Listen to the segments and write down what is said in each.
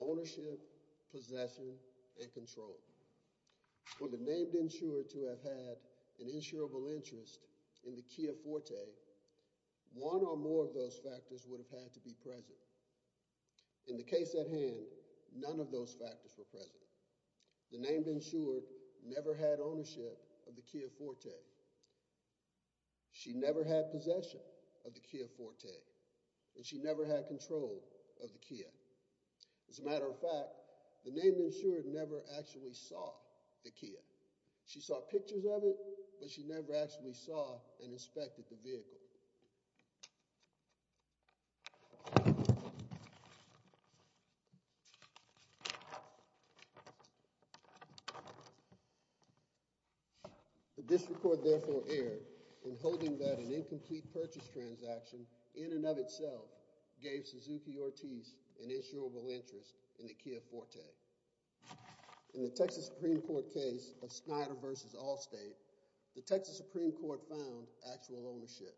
ownership, possession and control for the named insured to have had an insurable interest in the Kia Forte. One or more of those factors would have had to be present. In the case at hand, none of those factors were present. The named insured never had ownership of the Kia Forte, and she never had control of the Kia. As a matter of fact, the named insured never actually saw the Kia. She saw pictures of it, but she never actually saw and inspected the vehicle. The District Court therefore erred in holding that an incomplete purchase transaction in and of itself gave Suzuki-Ortiz an insurable interest in the Kia Forte. In the Texas Supreme Court, the District Court found actual ownership.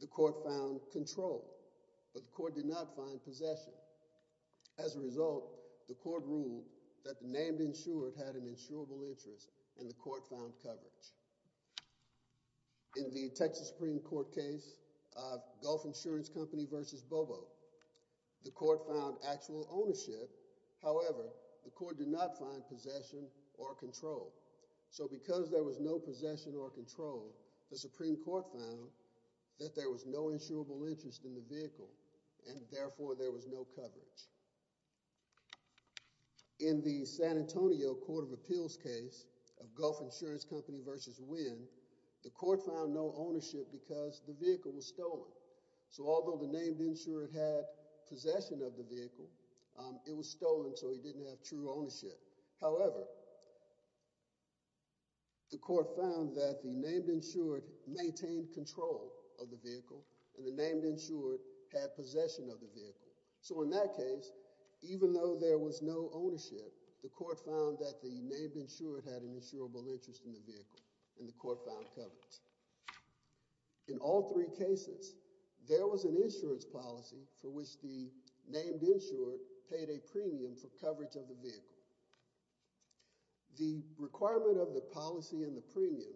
The court found control, but the court did not find possession. As a result, the court ruled that the named insured had an insurable interest, and the court found coverage. In the Texas Supreme Court case of Gulf Insurance Company v. Bobo, the court found actual ownership. However, the court did not find possession or control. So because there was no possession or control, the Supreme Court found that there was no insurable interest in the vehicle, and therefore there was no coverage. In the San Antonio Court of Appeals case of Gulf Insurance Company v. Wynn, the court found no ownership because the vehicle was stolen. So although the named insured had possession of the vehicle, it was stolen, so he didn't have true ownership. However, the court found that the named insured maintained control of the vehicle, and the named insured had possession of the vehicle. So in that case, even though there was no ownership, the court found that the named insured had an insurable interest in the vehicle, and the court found that the named insured paid a premium for coverage of the vehicle. The requirement of the policy and the premium,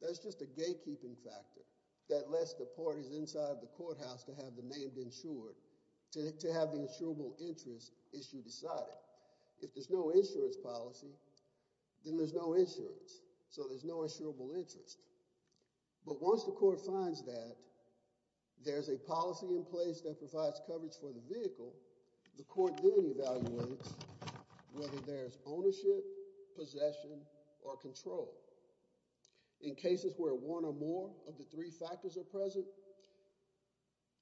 that's just a gatekeeping factor that lets the parties inside the courthouse to have the named insured, to have the insurable interest issue decided. If there's no insurance policy, then there's no insurance, so there's no insurable interest. But once the court finds that there's a policy in place that provides coverage for the vehicle, the court then evaluates whether there's ownership, possession, or control. In cases where one or more of the three factors are present,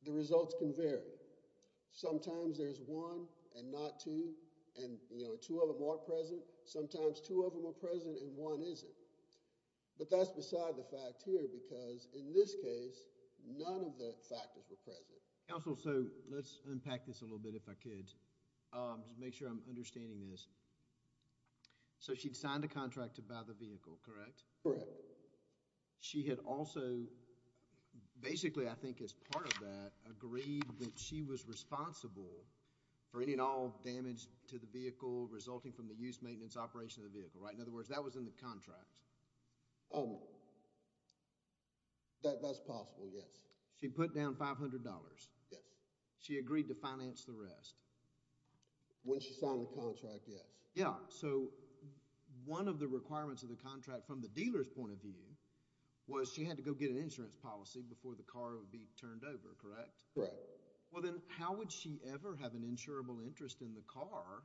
the results can vary. Sometimes there's one and not two, and two of them are present, sometimes two of them are present and one of them is not. But in this case, none of the factors were present. Counsel, so let's unpack this a little bit if I could, to make sure I'm understanding this. So she'd signed a contract to buy the vehicle, correct? Correct. She had also, basically I think as part of that, agreed that she was responsible for any and all damage to the vehicle resulting from the use, maintenance, operation of the That's possible, yes. She put down $500. Yes. She agreed to finance the rest. When she signed the contract, yes. Yeah, so one of the requirements of the contract from the dealer's point of view was she had to go get an insurance policy before the car would be turned over, correct? Correct. Well, then how would she ever have an insurable interest in the car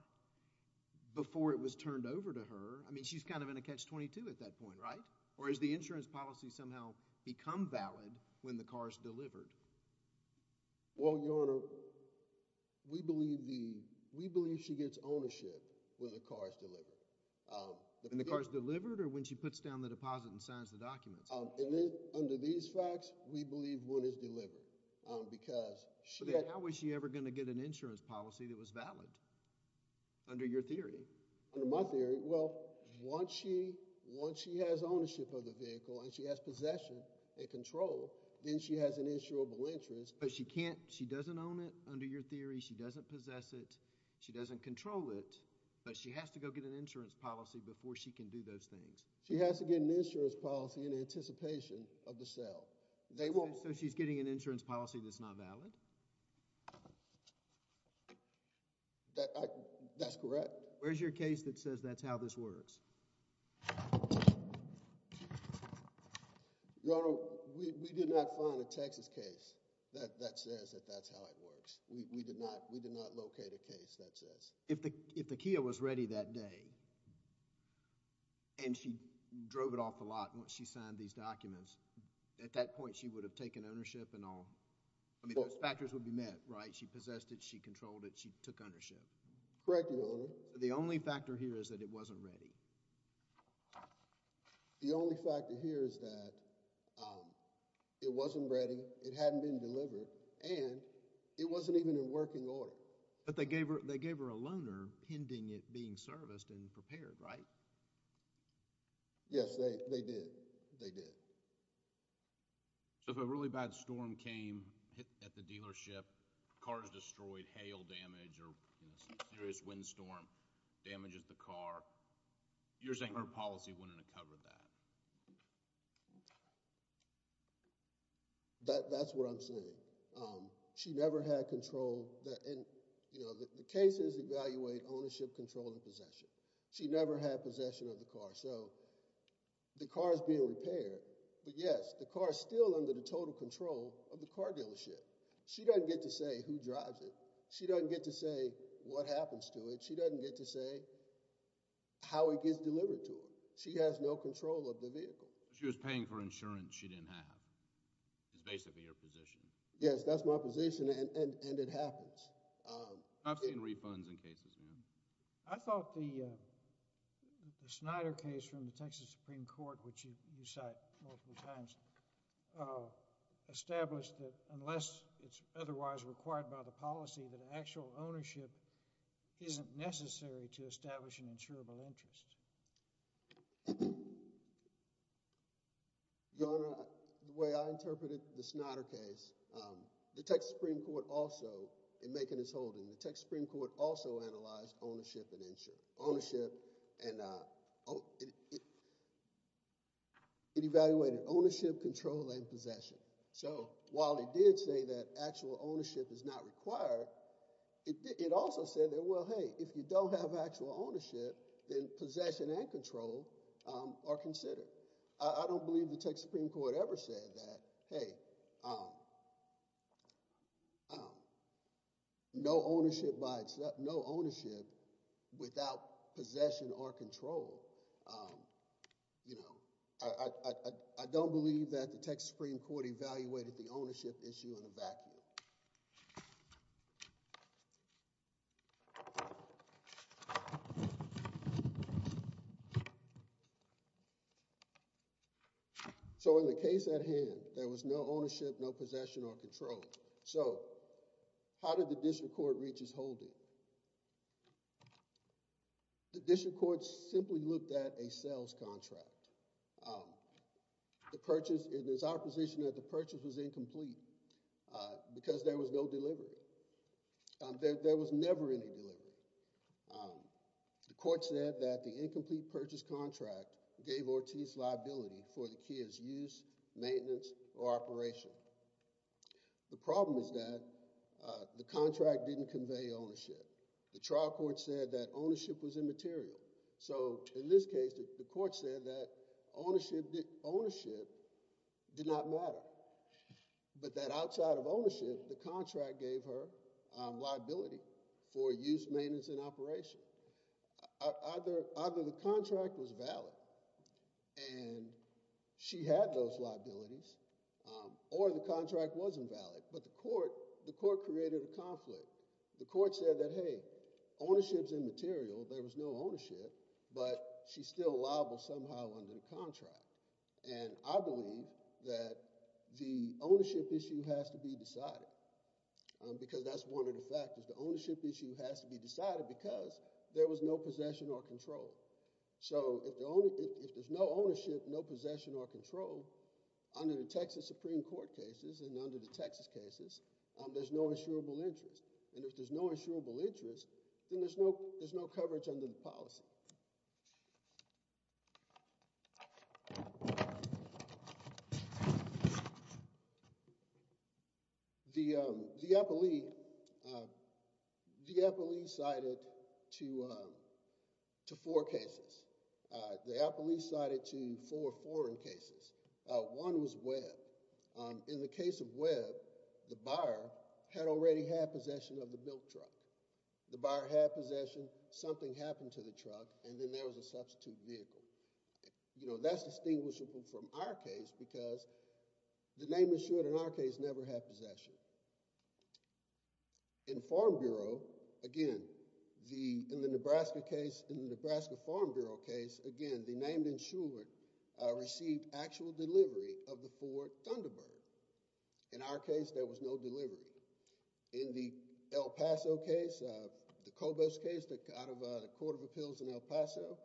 before it was turned over to her? I mean, she's kind of in a catch-22 at that point, right? Or has the insurance policy somehow become valid when the car is delivered? Well, Your Honor, we believe she gets ownership when the car is delivered. When the car is delivered or when she puts down the deposit and signs the documents? Under these facts, we believe one is delivered because she had But then how was she ever going to get an insurance policy that was valid, under your theory? Under my theory, well, once she has ownership of the vehicle and she has possession and control, then she has an insurable interest. But she can't, she doesn't own it under your theory, she doesn't possess it, she doesn't control it, but she has to go get an insurance policy before she can do those things. She has to get an insurance policy in anticipation of the sale. So she's getting an insurance policy that's not valid? That's correct. Where's your case that says that's how this works? Your Honor, we did not find a Texas case that says that that's how it works. We did not locate a case that says. If the Kia was ready that day and she drove it off the lot once she signed these documents, at that point she would have taken ownership and all? I mean, those factors would be met, right? She possessed it, she controlled it, she took ownership. Correct, Your Honor. The only factor here is that it wasn't ready? The only factor here is that it wasn't ready, it hadn't been delivered, and it wasn't even in working order. But they gave her a loaner pending it being serviced and prepared, right? Yes, they did. They did. So if a really bad storm came at the dealership, cars destroyed, hail damage, or a serious windstorm damages the car, you're saying her policy wouldn't have covered that? That's what I'm saying. She never had control. The cases evaluate ownership, control, and possession. She never had possession of the car. So the car is being repaired, but yes, the car is still under the total control of the car dealership. She doesn't get to say who drives it. She doesn't get to say what happens to it. She doesn't get to say how it gets delivered to her. She has no control of the vehicle. She was paying for insurance she didn't have, is basically her position. Yes, that's my position, and it happens. I've seen refunds in cases, ma'am. I thought the Snyder case from the Texas Supreme Court, which you cite multiple times, established that unless it's otherwise required by the policy, that actual ownership isn't necessary to establish an insurable interest. Your Honor, the way I interpreted the Snyder case, the Texas Supreme Court also, in making its holding, the Texas Supreme Court also analyzed ownership and insurance. It evaluated ownership, control, and possession. So while it did say that actual ownership is not required, it also said that, well, hey, if you don't have actual ownership, then possession and control are considered. I don't believe the Texas Supreme Court ever said that. Hey, no ownership without possession or control. I don't believe that the Texas Supreme Court evaluated the ownership issue in a vacuum. So in the case at hand, there was no ownership, no possession, or control. So how did the district court reach its holding? The district court simply looked at a sales contract. The purchase, it is our position that the purchase was incomplete because there was no delivery. There was never any delivery. The court said that the incomplete purchase contract gave Ortiz liability for the kid's use, maintenance, or operation. The problem is that the contract didn't convey ownership. The trial court said that ownership was immaterial. So in this case, the court said that ownership did not matter, but that outside of ownership, the contract gave her liability for use, maintenance, and operation. Either the contract was valid, and she had those liabilities, or the contract wasn't valid, but the court created a conflict. The court said that, hey, ownership's immaterial. There was no ownership, but she's still liable somehow under the contract. I believe that the ownership issue has to be decided because that's one of the factors. The ownership issue has to be decided because there was no possession or control. If there's no ownership, no possession, or control, under the Texas Supreme Court cases and under the Texas cases, there's no insurable interest. If there's no insurable interest, then there's no coverage under the policy. The appellee cited to four cases. The appellee cited to four foreign cases. One was Webb. In the case of Webb, the buyer had already had possession of the built truck. The buyer had possession. Something happened to the truck, and then there was a substitute vehicle. That's distinguishable from our case because the name insured in our case never had possession. In the Nebraska Farm Bureau case, again, the name insured received actual delivery of the Ford Thunderbird. In our case, there was no delivery. In the El Paso case, the Cobos case, out of the Court of Appeals in El Paso,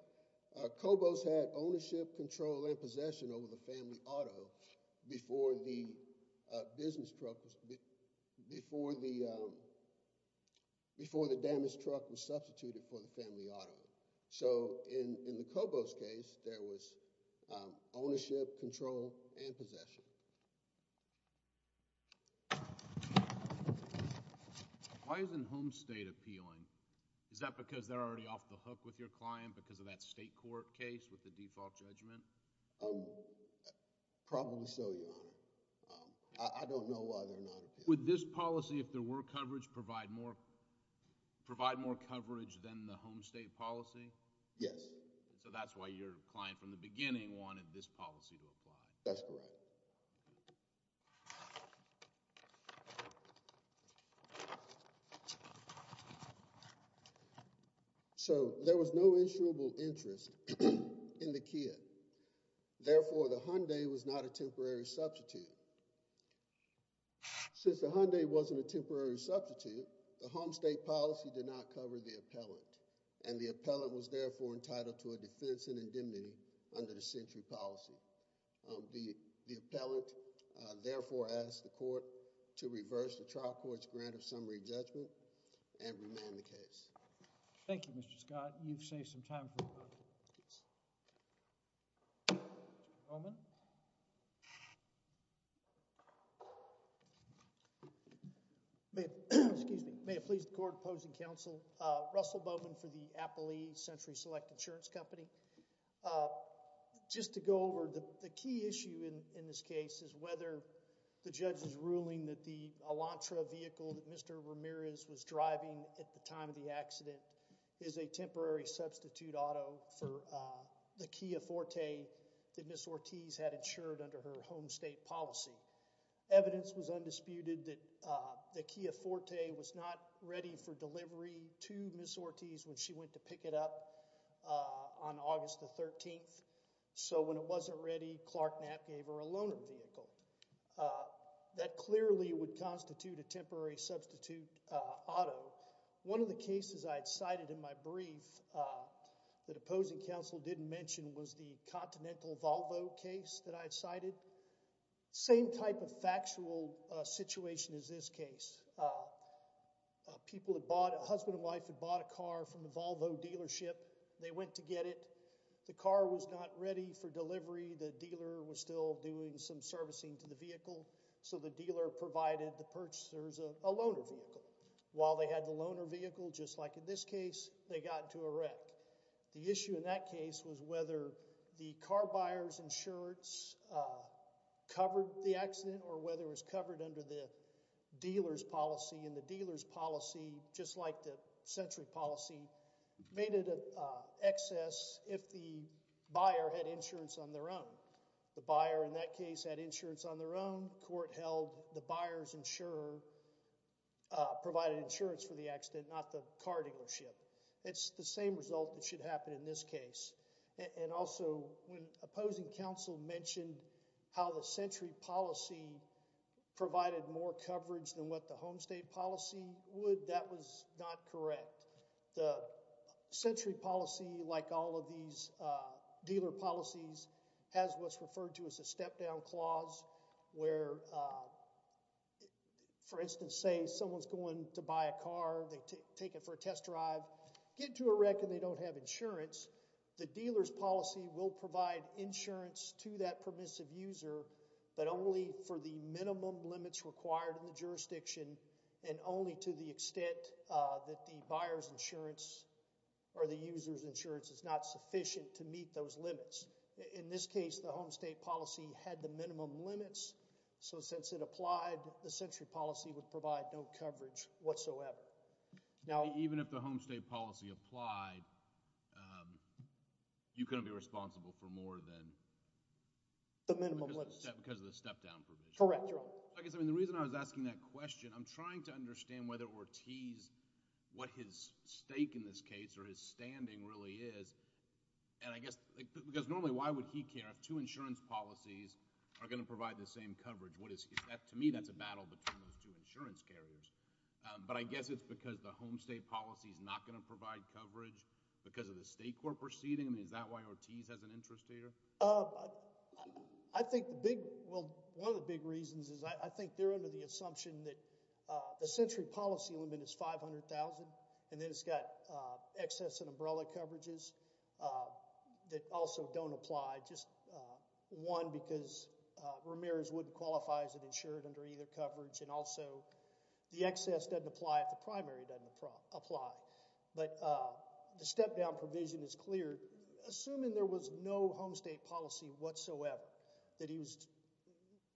Cobos had ownership, control, and possession over the family auto before the damaged truck was substituted for the family auto. In the Cobos case, there was ownership, control, and possession. Why isn't Homestate appealing? Is that because they're already off the hook with your client because of that state court case with the default judgment? Probably so, Your Honor. I don't know why they're not appealing. Would this policy, if there were coverage, provide more coverage than the Homestate policy? Yes. So that's why your client from the beginning wanted this policy to apply. That's correct. So there was no insurable interest in the kit. Therefore, the Hyundai was not a temporary substitute. Since the Hyundai wasn't a temporary substitute, the Homestate policy did not cover the appellant, and the appellant was therefore entitled to a defense in the case. The appellant therefore asked the court to reverse the trial court's grant of summary judgment and remand the case. Thank you, Mr. Scott. You've saved some time for me. Mr. Bowman? May it please the court opposing counsel, Russell Bowman for the Apple E Century Select Insurance Company. Just to go over, the key issue in this case is whether the judge's ruling that the Elantra vehicle that Mr. Ramirez was driving at the time of the accident is a temporary substitute auto for the Kia Forte that Ms. Ortiz had insured under her Homestate policy. Evidence was undisputed that the Kia Forte was not ready for delivery to Ms. Ortiz on August the 13th, so when it wasn't ready, Clark Knapp gave her a loaner vehicle. That clearly would constitute a temporary substitute auto. One of the cases I had cited in my brief that opposing counsel didn't mention was the Continental Volvo case that I had cited. Same type of factual situation as this case. A husband and wife had bought a car from the Volvo dealership. They went to get it. The car was not ready for delivery. The dealer was still doing some servicing to the vehicle, so the dealer provided the purchasers a loaner vehicle. While they had the loaner vehicle, just like in this case, they got into a wreck. The issue in that case was whether the car buyer's insurance covered the accident or whether it was covered under the dealer's policy. The dealer's policy, just like the sentry policy, made it an excess if the buyer had insurance on their own. The buyer in that case had insurance on their own. The court held the buyer's insurer provided insurance for the accident, not the car dealership. It's the same result that should happen in this case. Also, when opposing counsel mentioned how the sentry policy provided more estate policy would, that was not correct. The sentry policy, like all of these dealer policies, has what's referred to as a step-down clause where, for instance, say someone's going to buy a car. They take it for a test drive, get into a wreck, and they don't have insurance. The dealer's policy will provide insurance to that permissive user, but only for the minimum limits required in the jurisdiction and only to the extent that the buyer's insurance or the user's insurance is not sufficient to meet those limits. In this case, the home estate policy had the minimum limits, so since it applied, the sentry policy would provide no coverage whatsoever. Even if the home estate policy applied, you couldn't be responsible for more than the minimum limits. Because of the step-down provision? Correct, Your Honor. I guess the reason I was asking that question, I'm trying to understand whether Ortiz, what his stake in this case or his standing really is, and I guess because normally why would he care if two insurance policies are going to provide the same coverage? To me, that's a battle between those two insurance carriers, but I guess it's because the home estate policy is not going to provide coverage because of the state court proceeding? Is that why Ortiz has an interest here? I think the big – well, one of the big reasons is I think they're under the assumption that the sentry policy limit is $500,000 and then it's got excess and umbrella coverages that also don't apply. Just one, because Ramirez wouldn't qualify as an insured under either coverage and also the excess doesn't apply if the primary doesn't apply. But the step-down provision is clear. Assuming there was no home estate policy whatsoever, that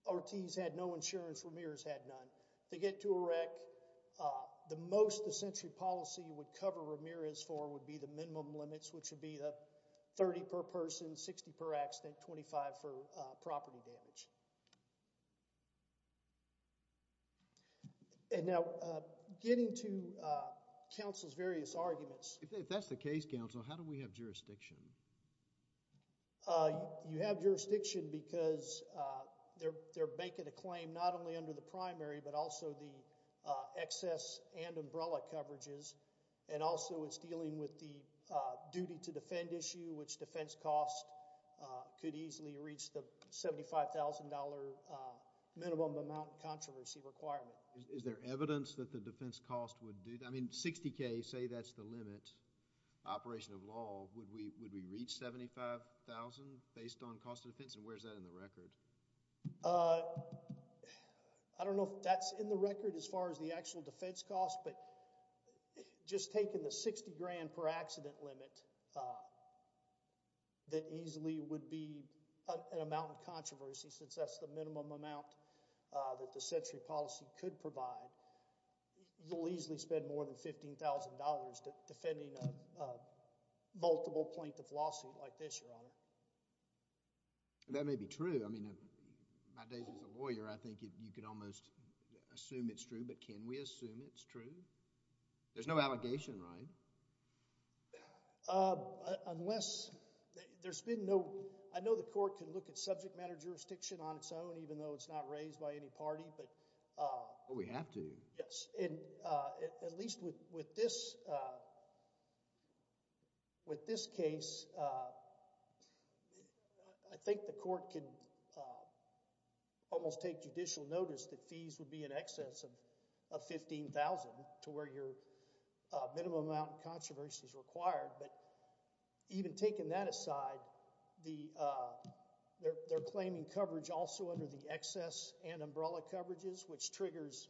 Ortiz had no insurance, Ramirez had none, to get to a rec, the most the sentry policy would cover Ramirez for would be the minimum limits, which would be 30 per person, 60 per accident, 25 for property damage. And now getting to counsel's various arguments. If that's the case, counsel, how do we have jurisdiction? You have jurisdiction because they're making a claim not only under the primary but also the excess and umbrella coverages and also it's dealing with the duty to Is there evidence that the defense cost would do that? I mean, 60K, say that's the limit, operation of law, would we reach 75,000 based on cost of defense and where's that in the record? I don't know if that's in the record as far as the actual defense cost but just taking the 60 grand per accident limit, that easily would be an amount of that's the minimum amount that the sentry policy could provide. You'll easily spend more than $15,000 defending a multiple plaintiff lawsuit like this, Your Honor. That may be true. I mean, my days as a lawyer, I think you could almost assume it's true but can we assume it's true? There's no allegation, right? Unless there's been no, I know the court can look at subject matter jurisdiction on its own even though it's not raised by any party but But we have to. Yes. At least with this case, I think the court can almost take judicial notice that fees would be in excess of $15,000 to where your minimum amount of controversy is required but even taking that aside, they're claiming coverage also under the excess and umbrella coverages which triggers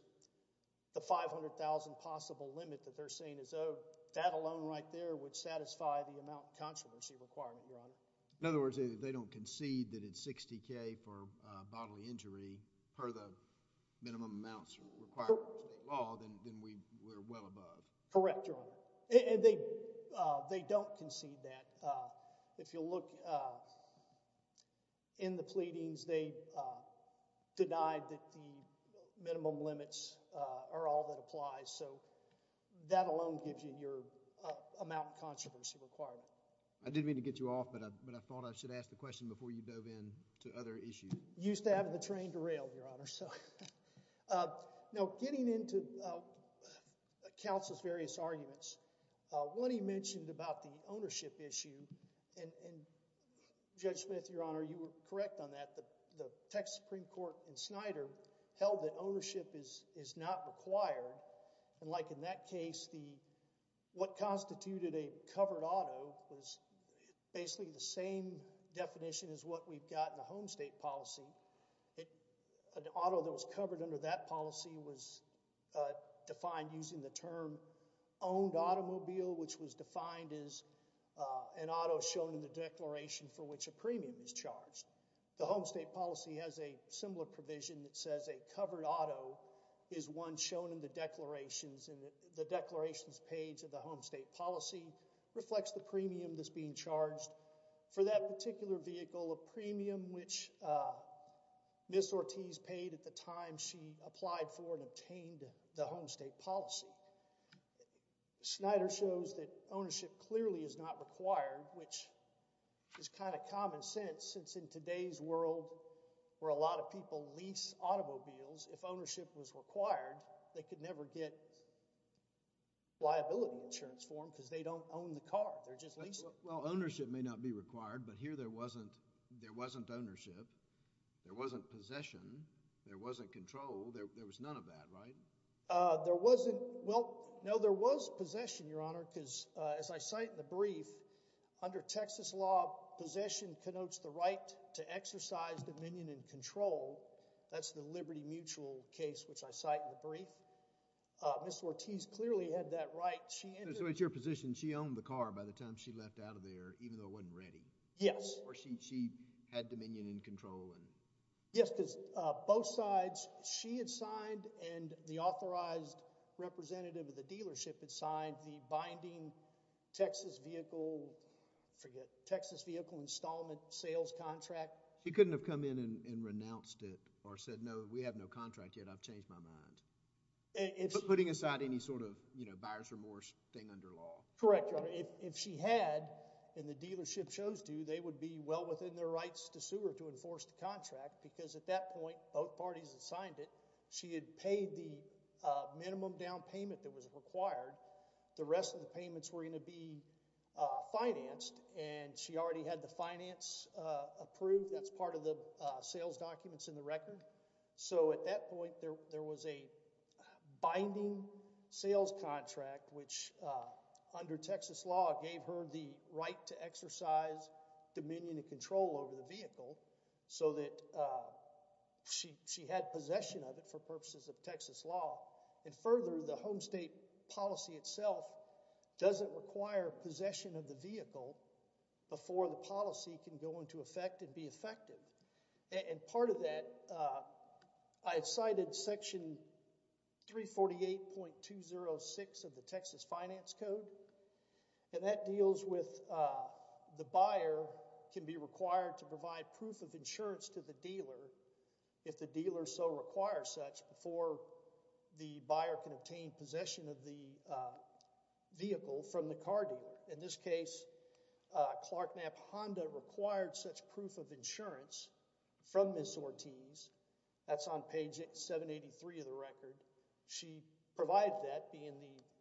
the $500,000 possible limit that they're saying is owed. That alone right there would satisfy the amount of controversy requirement, Your Honor. In other words, they don't concede that it's 60K for bodily injury per the minimum amounts required by state law, then we're well above. Correct, Your Honor. They don't concede that. If you look in the pleadings, they denied that the minimum limits are all that applies so that alone gives you your amount of controversy requirement. I didn't mean to get you off but I thought I should ask the question before you dove in to other issues. You used to have the train to rail, Your Honor. Getting into counsel's various arguments, one he mentioned about the ownership issue and Judge Smith, Your Honor, you were correct on that. The Texas Supreme Court in Snyder held that ownership is not required and like in that case, what constituted a covered auto was basically the same definition as what we've got in the home state policy. An auto that was covered under that policy was defined using the term owned automobile which was defined as an auto shown in the declaration for which a premium is charged. The home state policy has a similar provision that says a covered auto is one shown in the declarations and the declarations page of the home state policy reflects the premium that's being charged for that particular vehicle, a premium which Ms. Ortiz paid at the time she applied for and obtained the home state policy. Snyder shows that ownership clearly is not required which is kind of common sense since in today's world where a lot of people lease automobiles, if ownership was required, they could never get liability insurance for them because they don't own the car. They're just leasing. Well, ownership may not be required but here there wasn't ownership. There wasn't possession. There wasn't control. There was none of that, right? There wasn't. Well, no, there was possession, Your Honor, because as I cite in the brief, under Texas law, possession connotes the right to exercise dominion and control. That's the Liberty Mutual case which I cite in the brief. Ms. Ortiz clearly had that right. So it's your position she owned the car by the time she left out of there even though it wasn't ready? Yes. Or she had dominion and control? Yes, because both sides, she had signed and the authorized representative of the dealership had signed the binding Texas vehicle installment sales contract. She couldn't have come in and renounced it or said, We have no contract yet. I've changed my mind. Putting aside any sort of buyer's remorse thing under law. Correct, Your Honor. If she had and the dealership chose to, they would be well within their rights to sue her to enforce the contract because at that point both parties had signed it. She had paid the minimum down payment that was required. The rest of the payments were going to be financed and she already had the finance approved. That's part of the sales documents in the record. So at that point there was a binding sales contract which under Texas law gave her the right to exercise dominion and control over the vehicle so that she had possession of it for purposes of Texas law. Further, the home state policy itself doesn't require possession of the vehicle before the policy can go into effect and be effective. Part of that, I've cited Section 348.206 of the Texas Finance Code, and that deals with the buyer can be required to provide proof of insurance to the dealer if the dealer so requires such before the buyer can obtain possession of the vehicle from the car dealer. In this case, Clark Knapp Honda required such proof of insurance from Ms. Ortiz. That's on page 783 of the record. She provided that being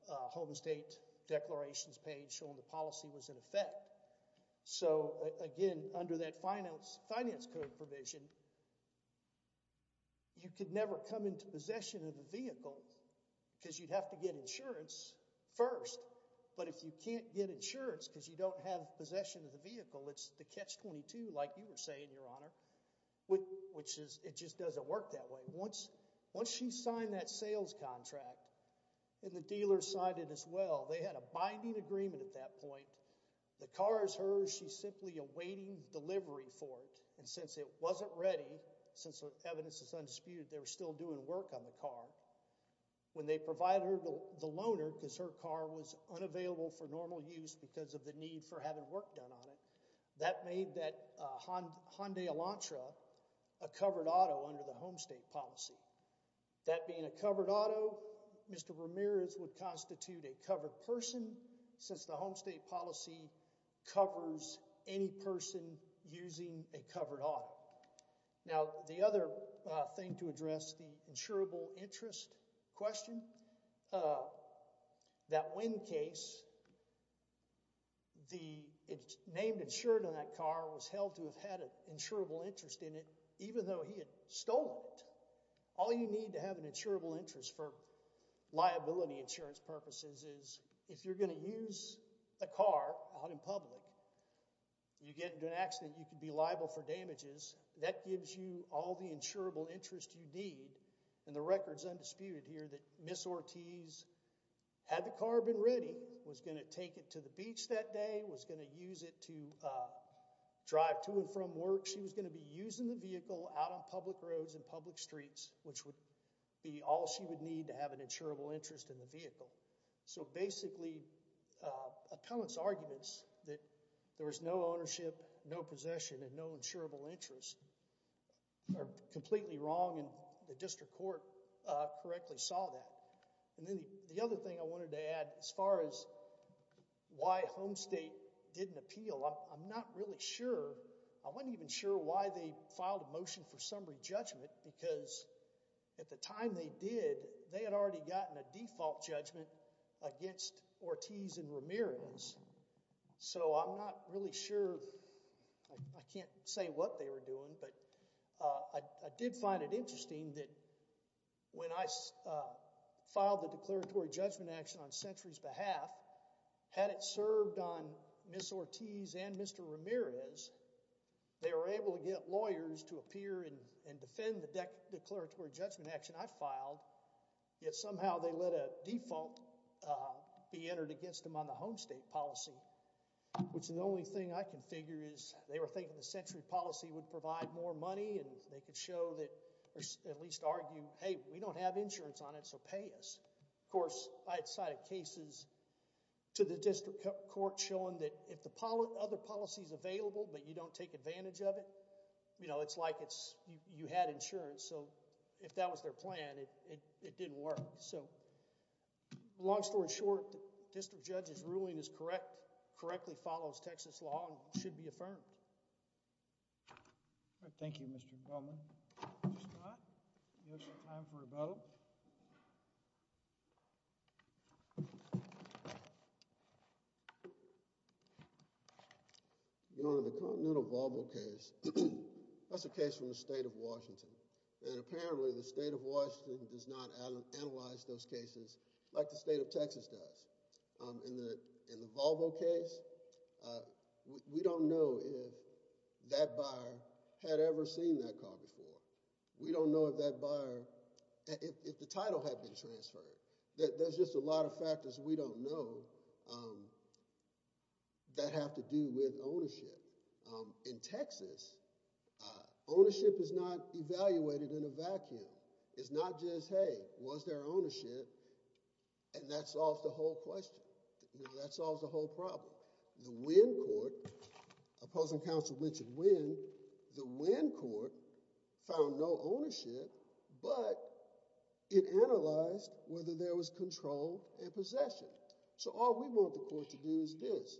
the home state declarations page showing the policy was in effect. So again, under that Finance Code provision, you could never come into possession of the vehicle because you'd have to get insurance first. But if you can't get insurance because you don't have possession of the vehicle, it's the catch-22 like you were saying, Your Honor, which is it just doesn't work that way. Once she signed that sales contract and the dealer signed it as well, they had a binding agreement at that point. The car is hers. She's simply awaiting delivery for it. And since it wasn't ready, since the evidence is undisputed, they were still doing work on the car. When they provided her the loaner because her car was unavailable for normal use because of the need for having work done on it, that made that Hyundai Elantra a covered auto under the home state policy. That being a covered auto, Mr. Ramirez would constitute a covered person since the home state policy covers any person using a covered auto. Now, the other thing to address, the insurable interest question, that wind case, the name insured on that car was held to have had an insurable interest in it even though he had stolen it. All you need to have an insurable interest for liability insurance purposes is if you're going to use a car out in public, you get into an accident, you can be liable for damages. That gives you all the insurable interest you need. And the record's undisputed here that Ms. Ortiz had the car been ready, was going to take it to the beach that day, was going to use it to drive to and from work. She was going to be using the vehicle out on public roads and public streets, which would be all she would need to have an insurable interest in the vehicle. So basically, appellant's arguments that there was no ownership, no possession, and no insurable interest are completely wrong and the district court correctly saw that. And then the other thing I wanted to add as far as why home state didn't appeal, I'm not really sure, I wasn't even sure why they filed a motion for summary judgment because at the time they did, they had already gotten a default judgment against Ortiz and Ramirez. So I'm not really sure, I can't say what they were doing, but I did find it interesting that when I filed the declaratory judgment action on Century's behalf, had it served on Ms. Ortiz and Mr. Ramirez, they were able to get lawyers to appear and defend the declaratory judgment action I filed, yet somehow they let a default be entered against them on the home state policy, which is the only thing I can figure is they were thinking the Century policy would provide more money and they could show that, or at least argue, hey, we don't have insurance on it, so pay us. Of course, I had cited cases to the district court showing that if the other policy is available but you don't take advantage of it, you know, it's like you had insurance. So if that was their plan, it didn't work. So long story short, the district judge's ruling is correct, correctly follows Texas law and should be affirmed. Thank you, Mr. Bellman. Mr. Scott, you have some time for rebuttal. You know, in the Continental Volvo case, that's a case from the state of Washington, and apparently the state of Washington does not analyze those cases like the state of Texas does. In the Volvo case, we don't know if that buyer had ever seen that car before. We don't know if that buyer, if the title had been transferred. There's just a lot of factors we don't know that have to do with ownership. In Texas, ownership is not evaluated in a vacuum. It's not just, hey, was there ownership, and that solves the whole question. You know, that solves the whole problem. The Winn Court, opposing counsel Richard Winn, the Winn Court found no ownership, but it analyzed whether there was control and possession. So all we want the court to do is this.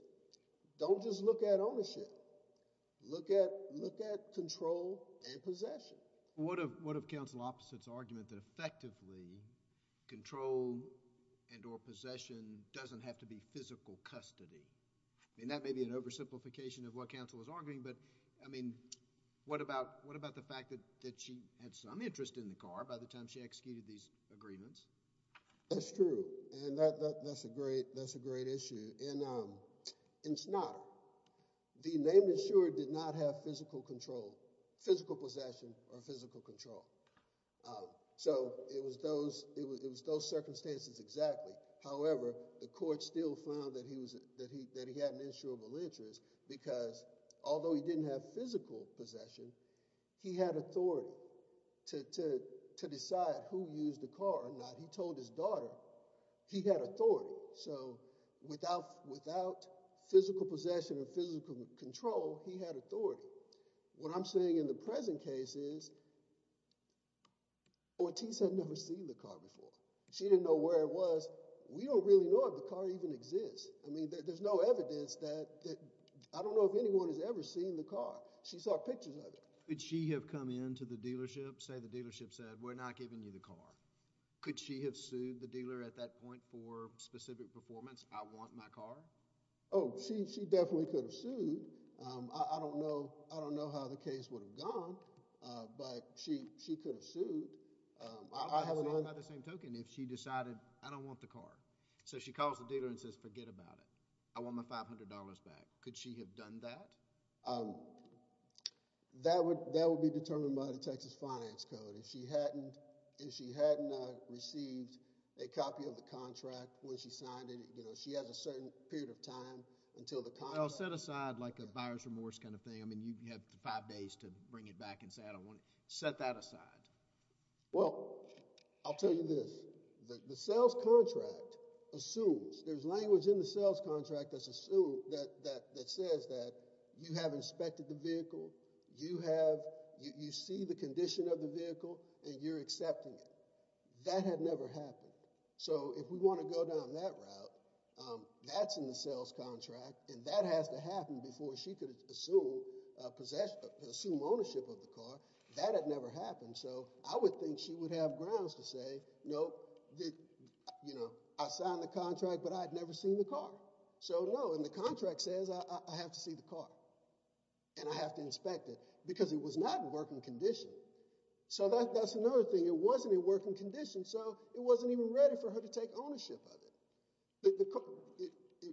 Don't just look at ownership. Look at control and possession. What of counsel Opposite's argument that effectively control and or possession doesn't have to be physical custody? I mean, that may be an oversimplification of what counsel is arguing, but, I mean, what about the fact that she had some interest in the car by the time she executed these agreements? That's true, and that's a great issue. In Snotter, the named insurer did not have physical control, physical possession, or physical control. So it was those circumstances exactly. However, the court still found that he had an insurable interest because, although he didn't have physical possession, he had authority to decide who used the car or not. He told his daughter he had authority. So without physical possession or physical control, he had authority. What I'm saying in the present case is Ortiz had never seen the car before. She didn't know where it was. We don't really know if the car even exists. I mean, there's no evidence that—I don't know if anyone has ever seen the car. She saw pictures of it. Could she have come into the dealership, say the dealership said, we're not giving you the car? Could she have sued the dealer at that point for specific performance? I want my car. Oh, she definitely could have sued. I don't know how the case would have gone, but she could have sued. I would have sued her by the same token if she decided I don't want the car. So she calls the dealer and says forget about it. I want my $500 back. Could she have done that? That would be determined by the Texas Finance Code. If she hadn't received a copy of the contract when she signed it, she has a certain period of time until the contract— Set aside like a buyer's remorse kind of thing. I mean, you have five days to bring it back and say I don't want it. Set that aside. Well, I'll tell you this. The sales contract assumes—there's language in the sales contract that says that you have inspected the vehicle. You see the condition of the vehicle, and you're accepting it. That had never happened. So if we want to go down that route, that's in the sales contract, and that has to happen before she could assume ownership of the car. That had never happened. So I would think she would have grounds to say, no, I signed the contract, but I had never seen the car. So no, and the contract says I have to see the car, and I have to inspect it because it was not in working condition. So that's another thing. It wasn't in working condition, so it wasn't even ready for her to take ownership of it.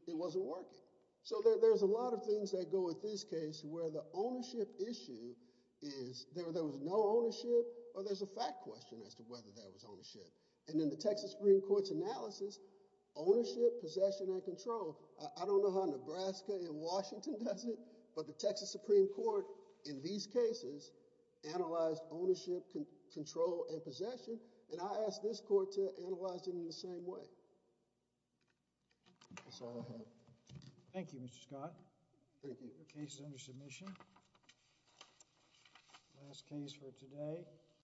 It wasn't working. So there's a lot of things that go with this case where the ownership issue is there was no ownership, or there's a fact question as to whether there was ownership. And in the Texas Supreme Court's analysis, ownership, possession, and control, I don't know how Nebraska and Washington does it, but the Texas Supreme Court in these cases analyzed ownership, control, and possession, and I ask this court to analyze it in the same way. That's all I have. Thank you, Mr. Scott. Thank you. The case is under submission. Last case for today.